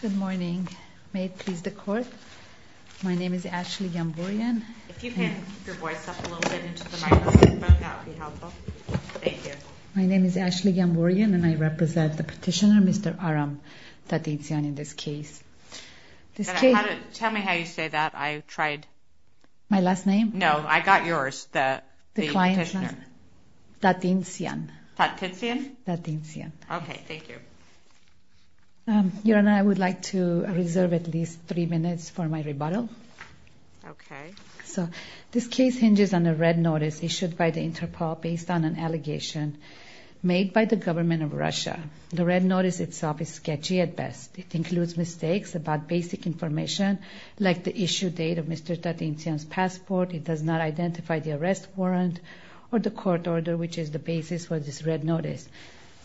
Good morning. May it please the court. My name is Ashley Yambourian and I represent the petitioner Mr. Aram Tatintsyan in this case. Tell me how you say that. I tried. My last name? No, I got yours. The petitioner. Tatintsyan. Tatintsyan? Tatintsyan. Okay, thank you. Your Honor, I would like to reserve at least three minutes for my rebuttal. Okay. So this case hinges on a red notice issued by the Interpol based on an allegation made by the government of Russia. The red notice itself is sketchy at best. It includes mistakes about basic information like the issue date of Mr. Tatintsyan's passport. It does not identify the arrest warrant or the court order, which is the basis for this red notice.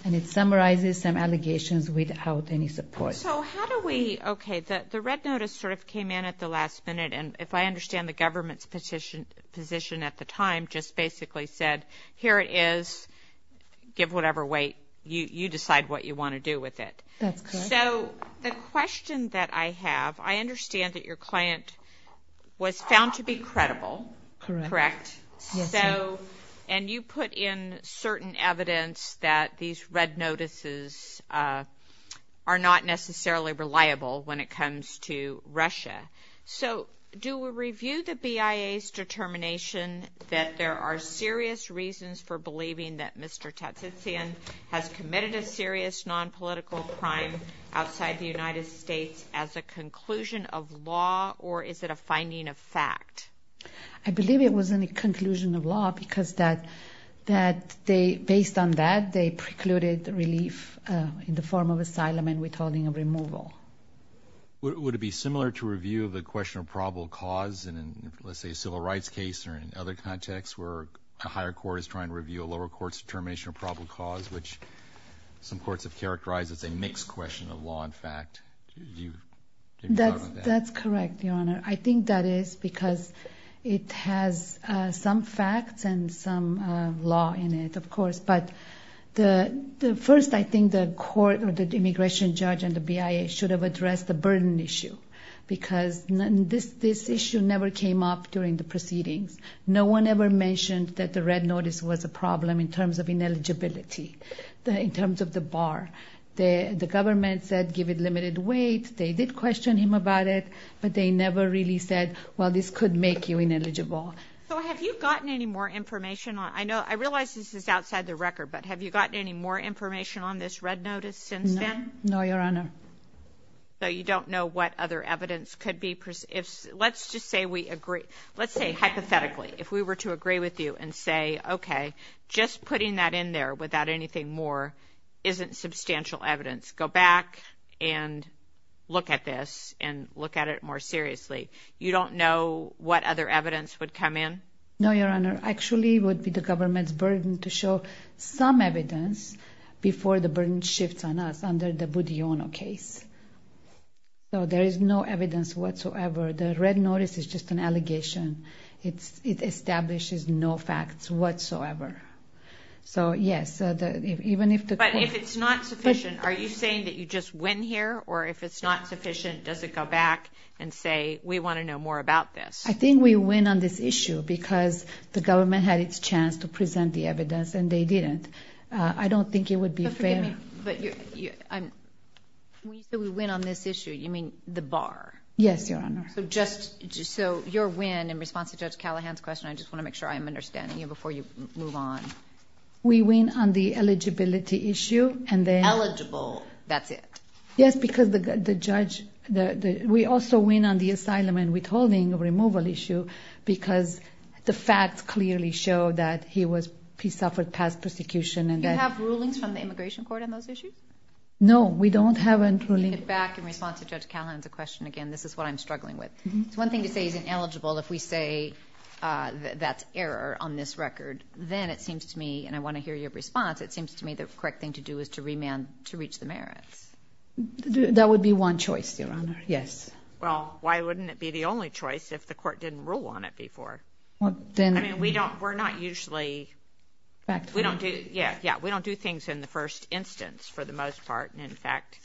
And it summarizes some allegations without any support. So how do we, okay, the red notice sort of came in at the last minute and if I understand the government's position at the time just basically said, here it is, give whatever weight, you decide what you want to do with it. That's correct. So the question that I have, I understand that your client was found to be credible. Correct. And you put in certain evidence that these red notices are not necessarily reliable when it comes to Russia. So do we review the BIA's determination that there are serious reasons for believing that Mr. Tatintsyan has committed a serious nonpolitical crime outside the United States as a conclusion of law or is it a finding of fact? I believe it was a conclusion of law because based on that, they precluded relief in the form of asylum and withholding of removal. Would it be similar to review of the question of probable cause in, let's say, a civil rights case or in other contexts where a higher court is trying to review a lower court's determination of probable cause, which some courts have characterized as a mixed question of law and fact? That's correct, Your Honor. I think that is because it has some facts and some law in it, of course. But first, I think the court or the immigration judge and the BIA should have addressed the burden issue because this issue never came up during the proceedings. No one ever mentioned that the red notice was a problem in terms of ineligibility, in terms of the bar. The government said give it limited weight. They did question him about it, but they never really said, well, this could make you ineligible. So have you gotten any more information? I realize this is outside the record, but have you gotten any more information on this red notice since then? No, Your Honor. So you don't know what other evidence could be? Let's just say we agree. Let's say hypothetically, if we were to agree with you and say, okay, just putting that in there without anything more isn't substantial evidence. Go back and look at this and look at it more seriously. You don't know what other evidence would come in? No, Your Honor. Actually, it would be the government's burden to show some evidence before the burden shifts on us under the Budiono case. So there is no evidence whatsoever. The red notice is just an allegation. It establishes no facts whatsoever. So, yes, even if the court- But if it's not sufficient, are you saying that you just win here? Or if it's not sufficient, does it go back and say, we want to know more about this? I think we win on this issue because the government had its chance to present the evidence, and they didn't. I don't think it would be fair- When you say we win on this issue, you mean the bar? Yes, Your Honor. So your win in response to Judge Callahan's question, I just want to make sure I'm understanding you before you move on. We win on the eligibility issue, and then- Eligible, that's it? Yes, because the judge- We also win on the asylum and withholding removal issue because the facts clearly show that he suffered past persecution. Do you have rulings from the Immigration Court on those issues? No, we don't have any rulings. To get back in response to Judge Callahan's question again, this is what I'm struggling with. It's one thing to say he's ineligible. If we say that's error on this record, then it seems to me, and I want to hear your response, it seems to me the correct thing to do is to remand to reach the merits. That would be one choice, Your Honor, yes. Well, why wouldn't it be the only choice if the court didn't rule on it before? Well, then- I mean, we're not usually- Factful. Yeah, we don't do things in the first instance for the most part, and, in fact,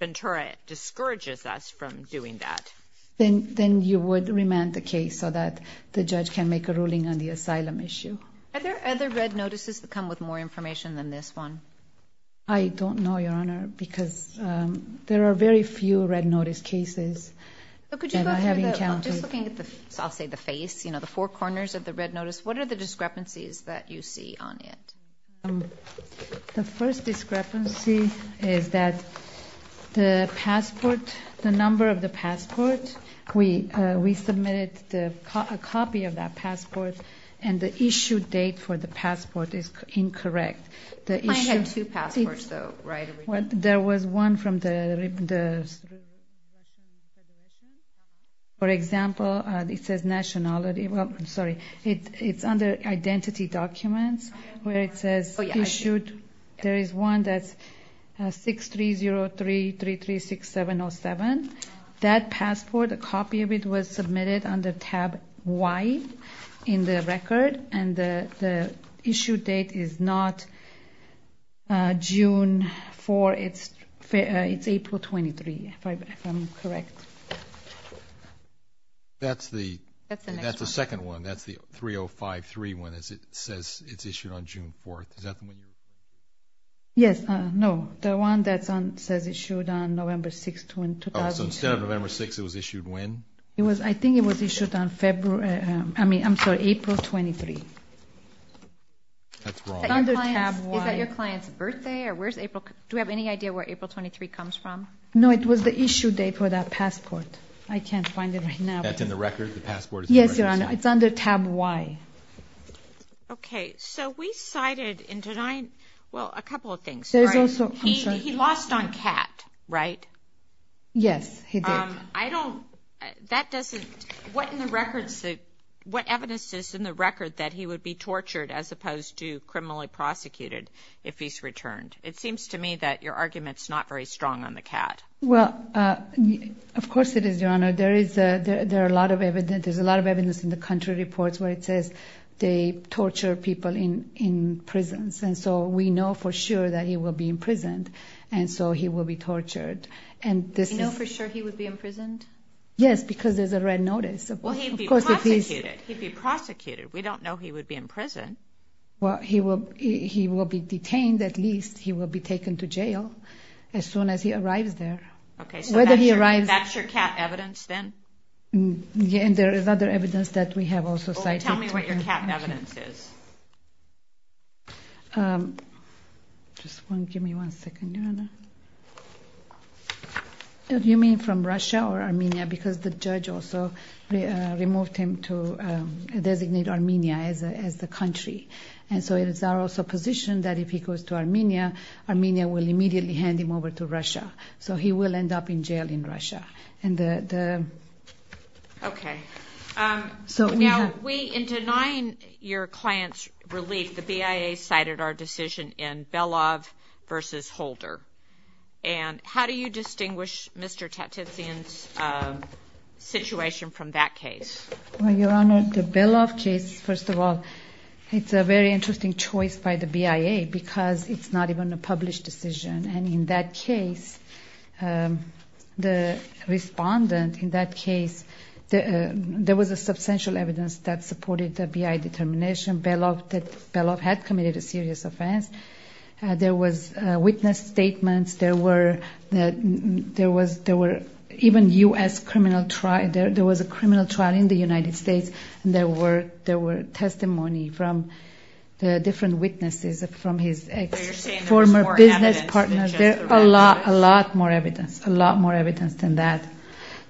Ventura discourages us from doing that. Then you would remand the case so that the judge can make a ruling on the asylum issue. Are there other red notices that come with more information than this one? I don't know, Your Honor, because there are very few red notice cases that I have encountered. Just looking at the, I'll say the face, you know, the four corners of the red notice, what are the discrepancies that you see on it? The first discrepancy is that the passport, the number of the passport, we submitted a copy of that passport, and the issue date for the passport is incorrect. Mine had two passports, though, right? There was one from the- For example, it says nationality. Well, I'm sorry, it's under identity documents where it says issued. There is one that's 6303336707. That passport, a copy of it was submitted under tab Y in the record, and the issue date is not June 4. It's April 23, if I'm correct. That's the second one. That's the 3053 one. It says it's issued on June 4. Is that the one you- Yes, no, the one that says it's issued on November 6, 2002. Oh, so instead of November 6, it was issued when? I think it was issued on February, I mean, I'm sorry, April 23. That's wrong. It's under tab Y. Is that your client's birthday? Do we have any idea where April 23 comes from? No, it was the issue date for that passport. I can't find it right now. That's in the record? Yes, Your Honor, it's under tab Y. Okay, so we cited in tonight, well, a couple of things. There's also- He lost on CAT, right? Yes, he did. I don't, that doesn't, what in the records, what evidence is in the record that he would be tortured as opposed to criminally prosecuted if he's returned? It seems to me that your argument's not very strong on the CAT. Well, of course it is, Your Honor. There's a lot of evidence in the country reports where it says they torture people in prisons, and so we know for sure that he will be imprisoned, and so he will be tortured. You know for sure he would be imprisoned? Yes, because there's a red notice. Well, he'd be prosecuted. We don't know he would be in prison. Well, he will be detained at least. He will be taken to jail as soon as he arrives there. Okay, so that's your CAT evidence then? Yeah, and there is other evidence that we have also cited. Well, tell me what your CAT evidence is. Just give me one second, Your Honor. Do you mean from Russia or Armenia? Because the judge also removed him to designate Armenia as the country, and so it is our supposition that if he goes to Armenia, Armenia will immediately hand him over to Russia. So he will end up in jail in Russia. Okay. Now, in denying your client's relief, the BIA cited our decision in Belov v. Holder, and how do you distinguish Mr. Tatitsian's situation from that case? Well, Your Honor, the Belov case, first of all, it's a very interesting choice by the BIA because it's not even a The respondent in that case, there was a substantial evidence that supported the BIA determination. Belov had committed a serious offense. There was witness statements. There were even U.S. criminal trial. There was a criminal trial in the United States, and there were testimony from the different witnesses, from his ex-former business partner. There's a lot more evidence, a lot more evidence than that.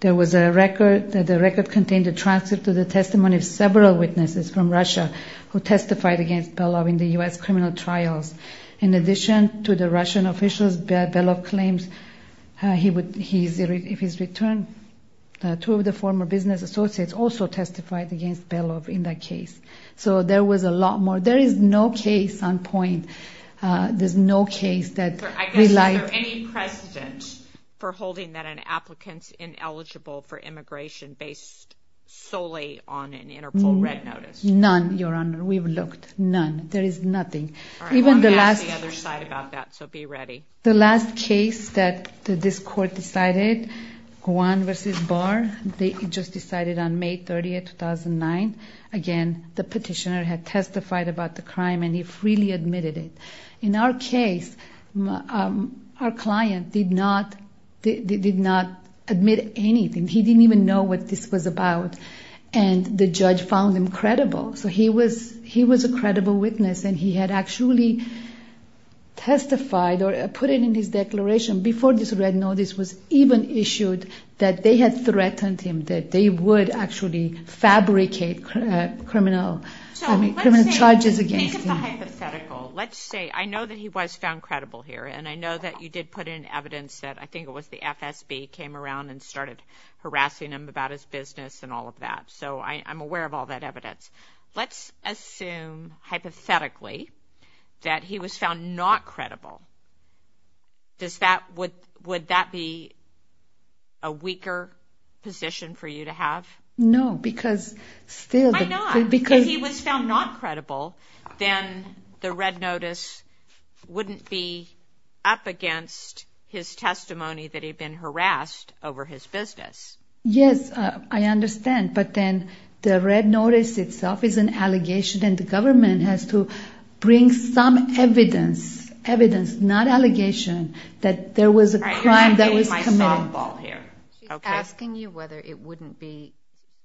There was a record, the record contained a transcript of the testimony of several witnesses from Russia who testified against Belov in the U.S. criminal trials. In addition to the Russian officials, Belov claims if he's returned, two of the former business associates also testified against Belov in that case. So there was a lot more. There is no case on point. Is there any precedent for holding that an applicant's ineligible for immigration based solely on an Interpol red notice? None, Your Honor. We've looked. None. There is nothing. I'm going to ask the other side about that, so be ready. The last case that this court decided, Guan versus Barr, they just decided on May 30, 2009. Again, the petitioner had testified about the crime, and he freely admitted it. In our case, our client did not admit anything. He didn't even know what this was about, and the judge found him credible. So he was a credible witness, and he had actually testified or put it in his declaration, before this red notice was even issued, charges against him. Think of the hypothetical. Let's say I know that he was found credible here, and I know that you did put in evidence that I think it was the FSB came around and started harassing him about his business and all of that. So I'm aware of all that evidence. Let's assume, hypothetically, that he was found not credible. Would that be a weaker position for you to have? No, because still the- Why not? Because if he was found not credible, then the red notice wouldn't be up against his testimony that he'd been harassed over his business. Yes, I understand. But then the red notice itself is an allegation, and the government has to bring some evidence, evidence, not allegation, that there was a crime that was committed. She's asking you whether it wouldn't be.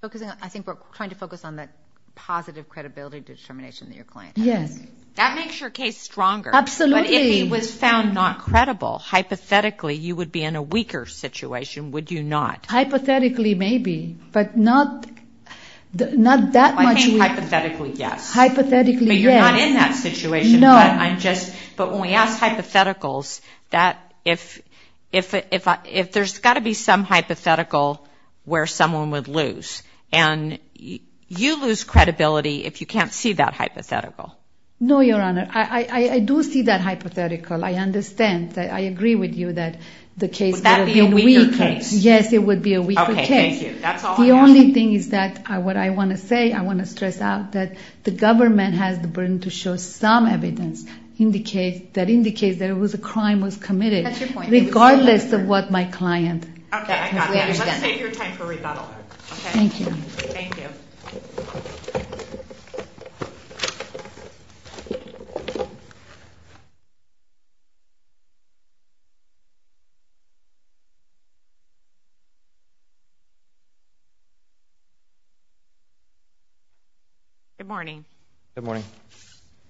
I think we're trying to focus on that positive credibility determination that your client has. Yes. That makes your case stronger. Absolutely. But if he was found not credible, hypothetically, you would be in a weaker situation, would you not? Hypothetically, maybe, but not that much. I think hypothetically, yes. Hypothetically, yes. But you're not in that situation. No. But when we ask hypotheticals, if there's got to be some hypothetical where someone would lose, and you lose credibility if you can't see that hypothetical. No, Your Honor. I do see that hypothetical. I understand. I agree with you that the case- Would that be a weaker case? Yes, it would be a weaker case. Okay, thank you. That's all I have. The only thing is that what I want to say, I want to stress out that the government has the burden to show some evidence that indicates there was a crime was committed. That's your point. Regardless of what my client- Okay, I got it. Let's save your time for rebuttal. Okay. Thank you. Thank you. Good morning. Good morning.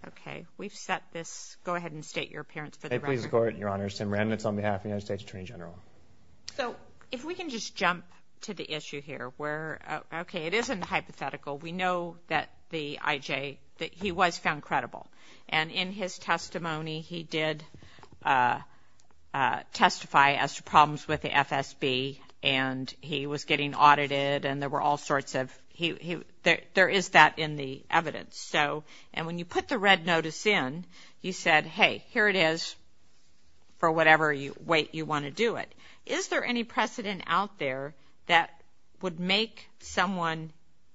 Okay. We've set this- Go ahead and state your appearance for the record. I plead the court, Your Honor. Sam Rennitz on behalf of the United States Attorney General. So if we can just jump to the issue here where- Okay, it isn't hypothetical. We know that the IJ, that he was found credible. And in his testimony, he did testify as to problems with the FSB, and he was getting audited, and there were all sorts of- There is that in the evidence. And when you put the red notice in, you said, hey, here it is for whatever weight you want to do it. Is there any precedent out there that would make someone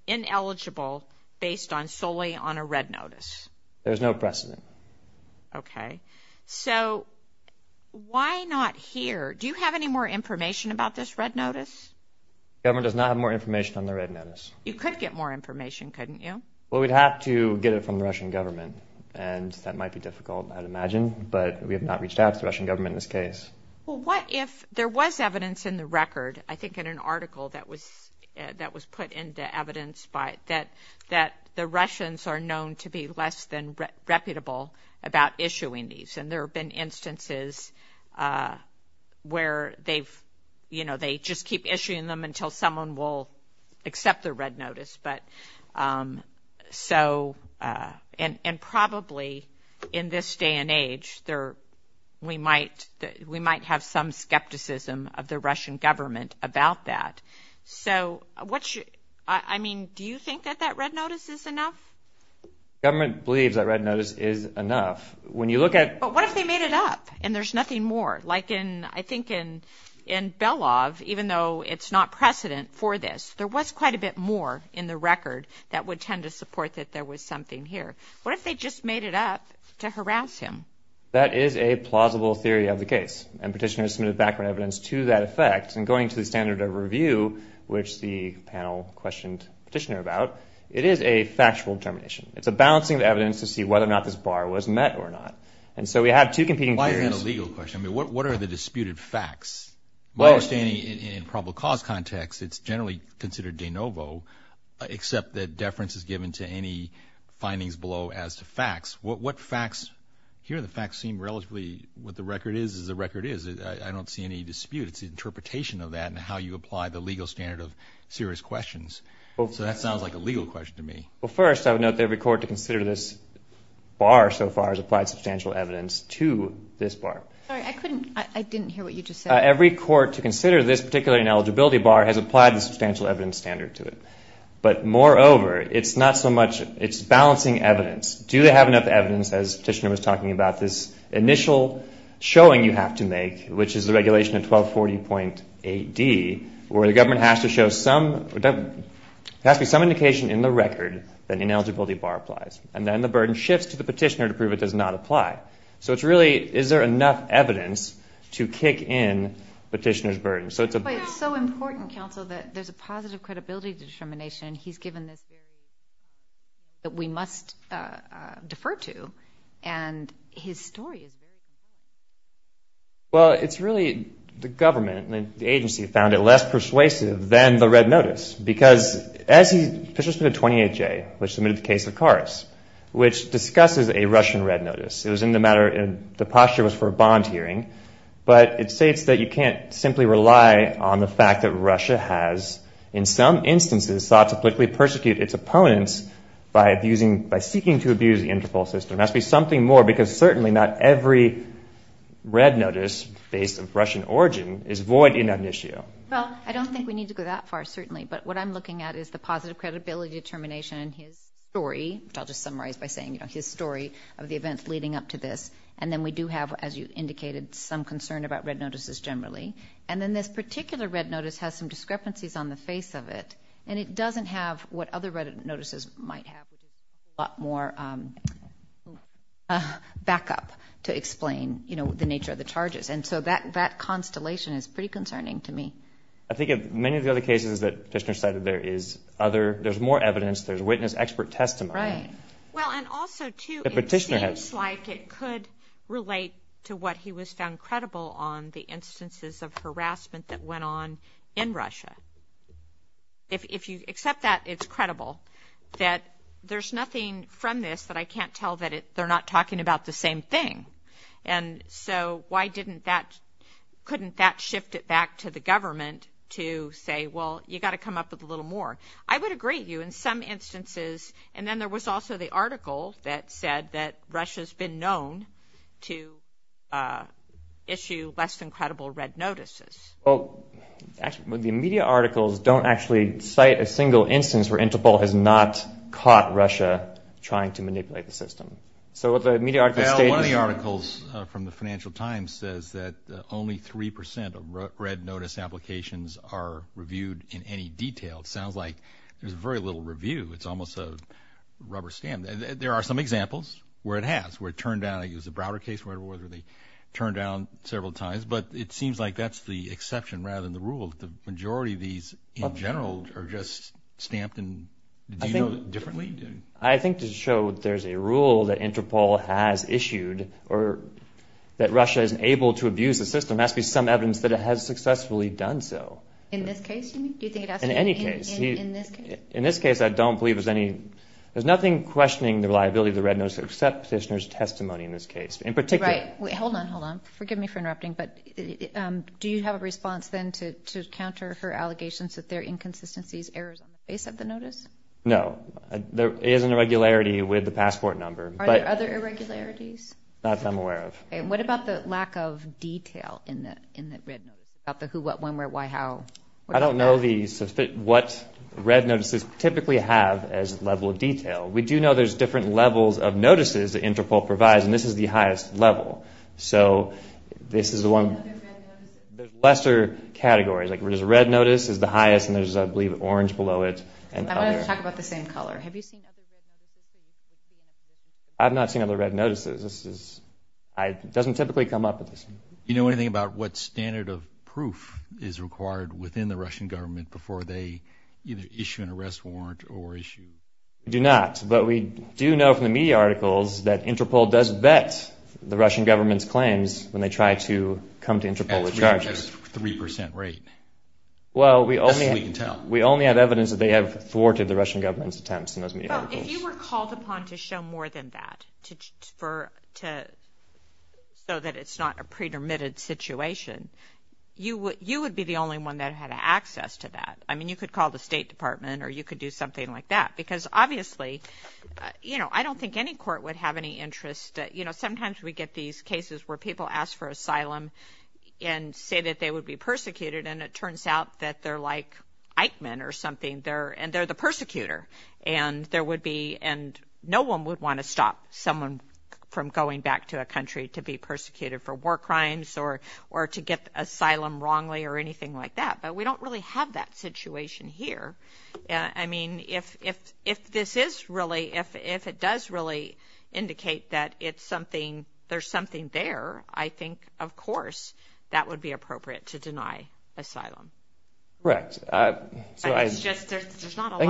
ineligible based solely on a red notice? There's no precedent. Okay. So why not here? Do you have any more information about this red notice? The government does not have more information on the red notice. You could get more information, couldn't you? Well, we'd have to get it from the Russian government, and that might be difficult, I'd imagine, but we have not reached out to the Russian government in this case. Well, what if there was evidence in the record, I think in an article that was put into evidence, that the Russians are known to be less than reputable about issuing these? And there have been instances where they just keep issuing them until someone will accept the red notice. And probably in this day and age, we might have some skepticism of the Russian government about that. I mean, do you think that that red notice is enough? The government believes that red notice is enough. But what if they made it up and there's nothing more? Like I think in Belov, even though it's not precedent for this, there was quite a bit more in the record that would tend to support that there was something here. What if they just made it up to harass him? That is a plausible theory of the case, and Petitioner has submitted background evidence to that effect. And going to the standard of review, which the panel questioned Petitioner about, it is a factual determination. It's a balancing of evidence to see whether or not this bar was met or not. And so we have two competing theories. Why is that a legal question? I mean, what are the disputed facts? My understanding in probable cause context, it's generally considered de novo, except that deference is given to any findings below as to facts. What facts? Here the facts seem relatively what the record is is the record is. I don't see any dispute. It's the interpretation of that and how you apply the legal standard of serious questions. So that sounds like a legal question to me. Well, first, I would note that every court to consider this bar so far has applied substantial evidence to this bar. Sorry, I couldn't. I didn't hear what you just said. Every court to consider this particular ineligibility bar has applied the substantial evidence standard to it. But moreover, it's not so much. It's balancing evidence. Do they have enough evidence, as Petitioner was talking about, this initial showing you have to make, which is the regulation of 1240.AD, where the government has to show some indication in the record that the ineligibility bar applies. And then the burden shifts to the Petitioner to prove it does not apply. So it's really, is there enough evidence to kick in Petitioner's burden? But it's so important, counsel, that there's a positive credibility determination. He's given this very important evidence that we must defer to. And his story is very important. Well, it's really the government and the agency found it less persuasive than the red notice because as Petitioner submitted 28J, which submitted the case of Karas, which discusses a Russian red notice. It was in the matter, the posture was for a bond hearing. But it states that you can't simply rely on the fact that Russia has, in some instances, thought to politically persecute its opponents by seeking to abuse the Interpol system. There has to be something more because certainly not every red notice based on Russian origin is void in amnesia. Well, I don't think we need to go that far, certainly. But what I'm looking at is the positive credibility determination in his story, which I'll just summarize by saying his story of the events leading up to this. And then we do have, as you indicated, some concern about red notices generally. And then this particular red notice has some discrepancies on the face of it. And it doesn't have what other red notices might have, which is a lot more backup to explain the nature of the charges. And so that constellation is pretty concerning to me. I think in many of the other cases that Petitioner cited, there is other, there's more evidence, there's witness expert testimony. Right. Well, and also, too, it seems like it could relate to what he was found credible on, the instances of harassment that went on in Russia. If you accept that it's credible, that there's nothing from this that I can't tell that they're not talking about the same thing. And so why couldn't that shift it back to the government to say, well, you've got to come up with a little more? I would agree with you. In some instances, and then there was also the article that said that Russia's been known to issue less than credible red notices. Well, the media articles don't actually cite a single instance where Interpol has not caught Russia trying to manipulate the system. So what the media articles state is – Well, one of the articles from the Financial Times says that only 3% of red notice applications are reviewed in any detail. It sounds like there's very little review. It's almost a rubber stamp. There are some examples where it has, where it turned down. I think it was the Browder case where they turned down several times. But it seems like that's the exception rather than the rule. The majority of these in general are just stamped differently. I think to show that there's a rule that Interpol has issued or that Russia isn't able to abuse the system, there has to be some evidence that it has successfully done so. In this case? In any case. In this case? In this case, I don't believe there's any – there's nothing questioning the reliability of the red notice except Petitioner's testimony in this case. In particular – Right. Hold on, hold on. Forgive me for interrupting. But do you have a response then to counter her allegations that there are inconsistencies, errors on the face of the notice? No. There is an irregularity with the passport number. Are there other irregularities? Not that I'm aware of. And what about the lack of detail in the red notice? About the who, what, when, where, why, how? I don't know what red notices typically have as level of detail. We do know there's different levels of notices that Interpol provides, and this is the highest level. So this is the one – Are there other red notices? There's lesser categories. Like there's a red notice is the highest, and there's, I believe, an orange below it. I wanted to talk about the same color. Have you seen other red notices? I've not seen other red notices. This is – it doesn't typically come up. Do you know anything about what standard of proof is required within the Russian government before they either issue an arrest warrant or issue – We do not. But we do know from the media articles that Interpol does vet the Russian government's claims when they try to come to Interpol with charges. At a 3% rate. Well, we only – That's all we can tell. We only have evidence that they have thwarted the Russian government's attempts in those media articles. Well, if you were called upon to show more than that, so that it's not a pretermitted situation, you would be the only one that had access to that. I mean, you could call the State Department or you could do something like that because obviously, you know, I don't think any court would have any interest. You know, sometimes we get these cases where people ask for asylum and say that they would be persecuted, and it turns out that they're like Eichmann or something, and they're the persecutor. And there would be – and no one would want to stop someone from going back to a country to be persecuted for war crimes or to get asylum wrongly or anything like that. But we don't really have that situation here. I mean, if this is really – if it does really indicate that it's something – there's something there, I think, of course, that would be appropriate to deny asylum. Correct. I think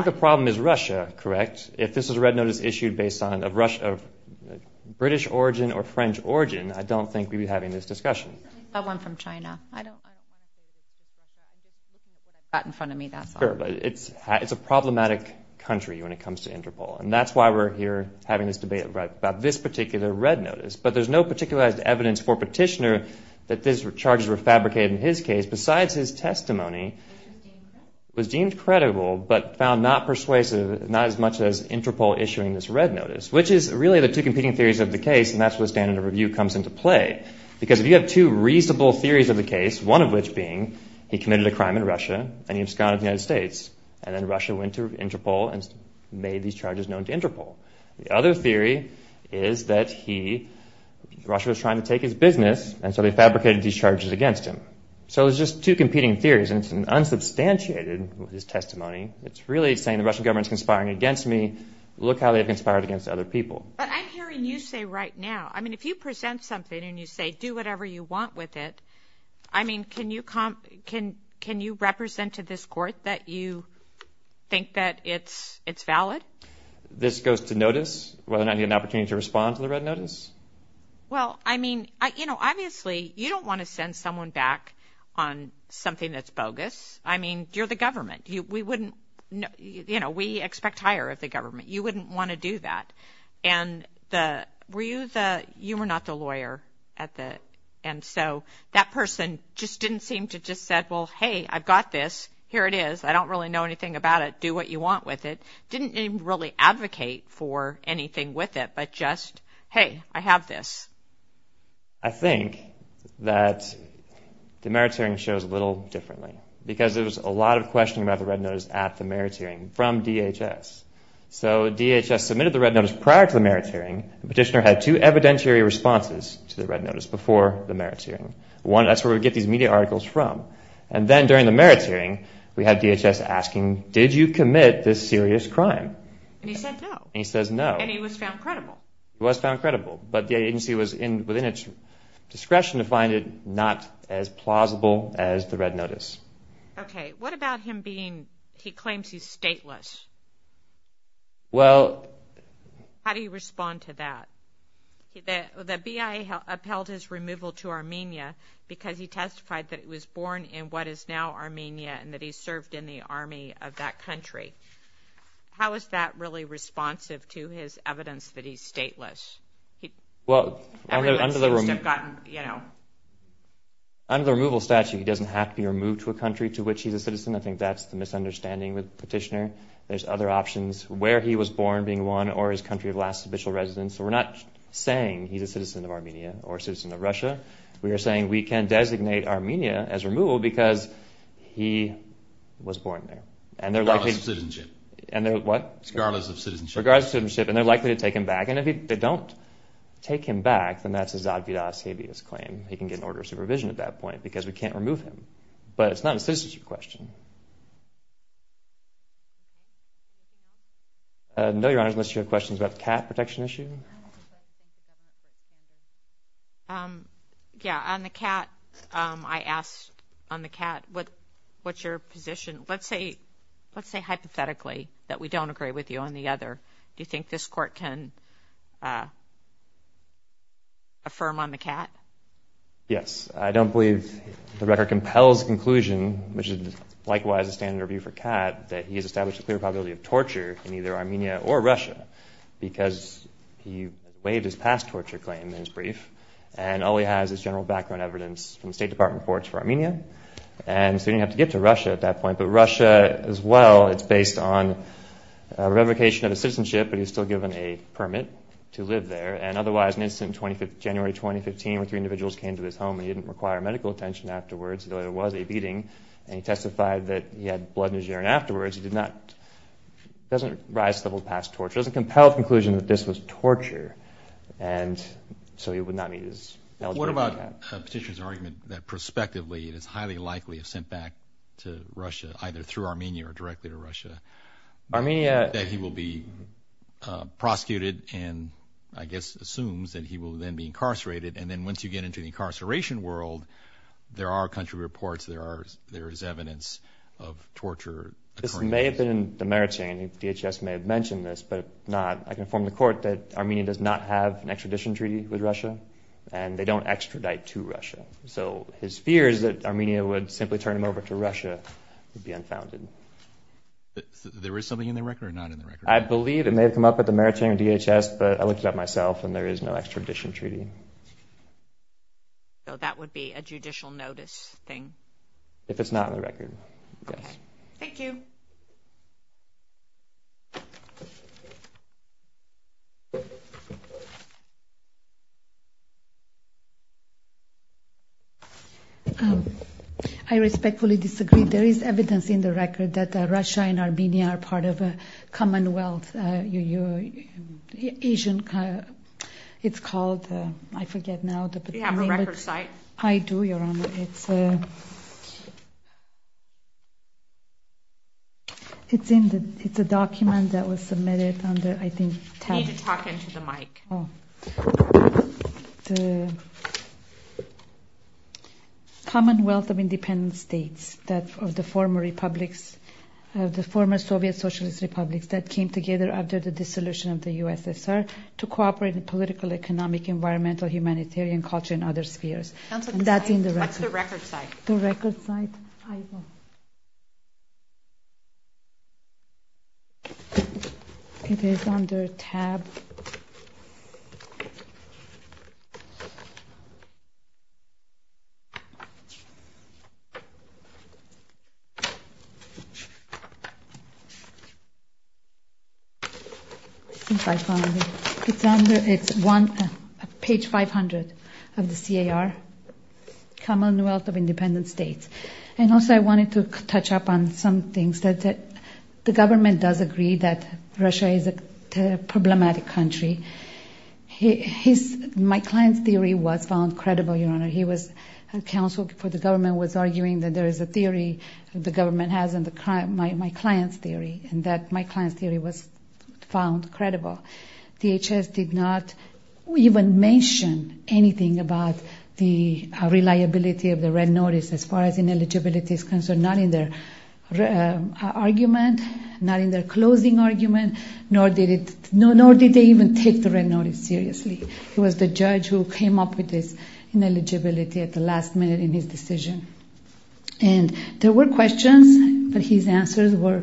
the problem is Russia, correct? If this was a red notice issued based on a British origin or French origin, I don't think we'd be having this discussion. That one from China. It's a problematic country when it comes to Interpol, and that's why we're here having this debate about this particular red notice. But there's no particularized evidence for Petitioner that these charges were fabricated in his case. Besides, his testimony was deemed credible but found not persuasive, not as much as Interpol issuing this red notice, which is really the two competing theories of the case, and that's where the standard of review comes into play. Because if you have two reasonable theories of the case, one of which being he committed a crime in Russia and he absconded to the United States, and then Russia went to Interpol and made these charges known to Interpol. The other theory is that he – Russia was trying to take his business, and so they fabricated these charges against him. So it's just two competing theories, and it's unsubstantiated, his testimony. It's really saying the Russian government is conspiring against me. Look how they've conspired against other people. But I'm hearing you say right now, I mean, if you present something and you say, do whatever you want with it, I mean, can you – can you represent to this court that you think that it's valid? This goes to notice, whether or not I get an opportunity to respond to the red notice? Well, I mean, you know, obviously you don't want to send someone back on something that's bogus. I mean, you're the government. We wouldn't – you know, we expect hire of the government. You wouldn't want to do that. And the – were you the – you were not the lawyer at the – and so that person just didn't seem to just say, well, hey, I've got this. Here it is. I don't really know anything about it. Do what you want with it. Didn't even really advocate for anything with it but just, hey, I have this. I think that the merits hearing shows a little differently because there was a lot of questioning about the red notice at the merits hearing from DHS. So DHS submitted the red notice prior to the merits hearing. Petitioner had two evidentiary responses to the red notice before the merits hearing. One, that's where we get these media articles from. And then during the merits hearing, we had DHS asking, did you commit this serious crime? And he said no. And he says no. And he was found credible. He was found credible. But the agency was within its discretion to find it not as plausible as the red notice. Okay. What about him being – he claims he's stateless. Well – How do you respond to that? The BIA upheld his removal to Armenia because he testified that he was born in what is now Armenia and that he served in the army of that country. How is that really responsive to his evidence that he's stateless? Well, under the removal statute, he doesn't have to be removed to a country to which he's a citizen. I think that's the misunderstanding with the petitioner. There's other options. Where he was born being one or his country of last official residence. So we're not saying he's a citizen of Armenia or a citizen of Russia. We are saying we can designate Armenia as removal because he was born there. And they're likely – Regardless of citizenship. And they're – what? Regardless of citizenship. Regardless of citizenship. And they're likely to take him back. And if they don't take him back, then that's a zadvidash habeas claim. He can get an order of supervision at that point because we can't remove him. But it's not a citizenship question. No, Your Honors. Unless you have questions about the Catt protection issue. Yeah. On the Catt, I asked on the Catt, what's your position? Let's say hypothetically that we don't agree with you on the other. Do you think this Court can affirm on the Catt? Yes. I don't believe the record compels conclusion, which is likewise a standard review for Catt, that he has established a clear probability of torture in either Armenia or Russia because he waived his past torture claim in his brief. And all he has is general background evidence from the State Department reports for Armenia. And so he didn't have to get to Russia at that point. But Russia as well, it's based on revocation of a citizenship, but he was still given a permit to live there. And otherwise, an incident in January 2015 where three individuals came to his home and he didn't require medical attention afterwards, though there was a beating, and he testified that he had blood in his urine afterwards. It doesn't rise to the level of past torture. It doesn't compel the conclusion that this was torture. And so he would not meet his eligibility. What about Petitioner's argument that prospectively it is highly likely sent back to Russia, either through Armenia or directly to Russia, that he will be prosecuted and I guess assumes that he will then be incarcerated. And then once you get into the incarceration world, there are country reports, there is evidence of torture occurring. This may have been in the meritorian. DHS may have mentioned this, but not. I can inform the court that Armenia does not have an extradition treaty with Russia, and they don't extradite to Russia. So his fear is that Armenia would simply turn him over to Russia and be unfounded. There is something in the record or not in the record? I believe it may have come up with the meritorian DHS, but I looked it up myself and there is no extradition treaty. So that would be a judicial notice thing? If it's not in the record, yes. Thank you. I respectfully disagree. There is evidence in the record that Russia and Armenia are part of a commonwealth. Asian, it's called, I forget now. Do you have a record site? I do, Your Honor. It's a document that was submitted under, I think. You need to talk into the mic. The Commonwealth of Independent States of the former republics, the former Soviet Socialist Republics that came together after the dissolution of the USSR to cooperate in political, economic, environmental, humanitarian, culture, and other spheres. That's in the record. What's the record site? The record site. It is under tab. I think I found it. It's under, it's one, page 500 of the CAR, Commonwealth of Independent States. And also I wanted to touch up on some things. The government does agree that Russia is a problematic country. My client's theory was found credible, Your Honor. He was counsel for the government, was arguing that there is a theory the government has and my client's theory, and that my client's theory was found credible. DHS did not even mention anything about the reliability of the red notice as far as ineligibility is concerned, not in their argument, not in their closing argument, nor did they even take the red notice seriously. It was the judge who came up with this ineligibility at the last minute in his decision. And there were questions, but his answers were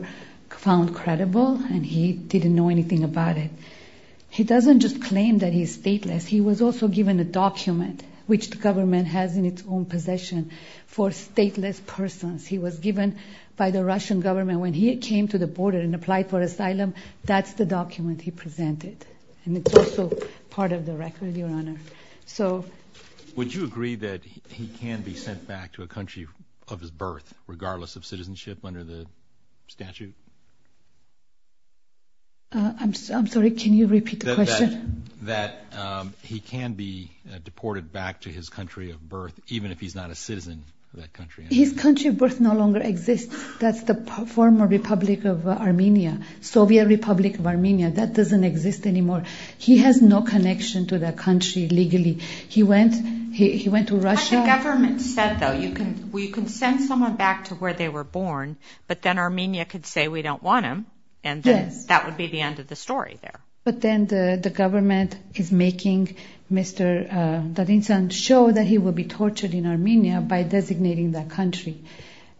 found credible, and he didn't know anything about it. He doesn't just claim that he's stateless. He was also given a document, which the government has in its own possession, for stateless persons. He was given by the Russian government when he came to the border and applied for asylum, that's the document he presented, and it's also part of the record, Your Honor. Would you agree that he can be sent back to a country of his birth, regardless of citizenship under the statute? I'm sorry, can you repeat the question? That he can be deported back to his country of birth, even if he's not a citizen of that country. His country of birth no longer exists. That's the former republic of Armenia, Soviet Republic of Armenia. That doesn't exist anymore. He has no connection to that country legally. He went to Russia. But the government said, though, you can send someone back to where they were born, but then Armenia could say, we don't want him, and that would be the end of the story there. But then the government is making Mr. Dadinsan show that he will be tortured in Armenia by designating that country.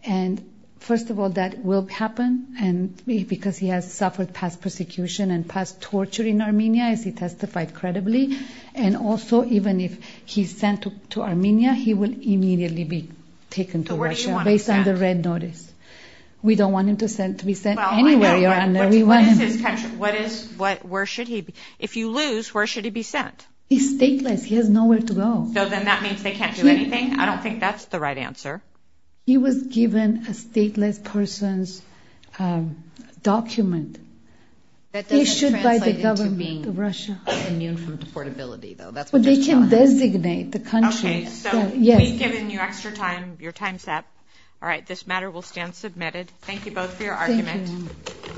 And, first of all, that will happen because he has suffered past persecution and past torture in Armenia, as he testified credibly, and also even if he's sent to Armenia, he will immediately be taken to Russia. So where do you want him sent? Based on the red notice. We don't want him to be sent anywhere, Your Honor. What is his country? Where should he be? If you lose, where should he be sent? He's stateless. He has nowhere to go. So then that means they can't do anything? I don't think that's the right answer. He was given a stateless person's document issued by the government of Russia. But they can designate the country. Okay, so we've given you extra time. Your time's up. All right, this matter will stand submitted. Thank you, Your Honor.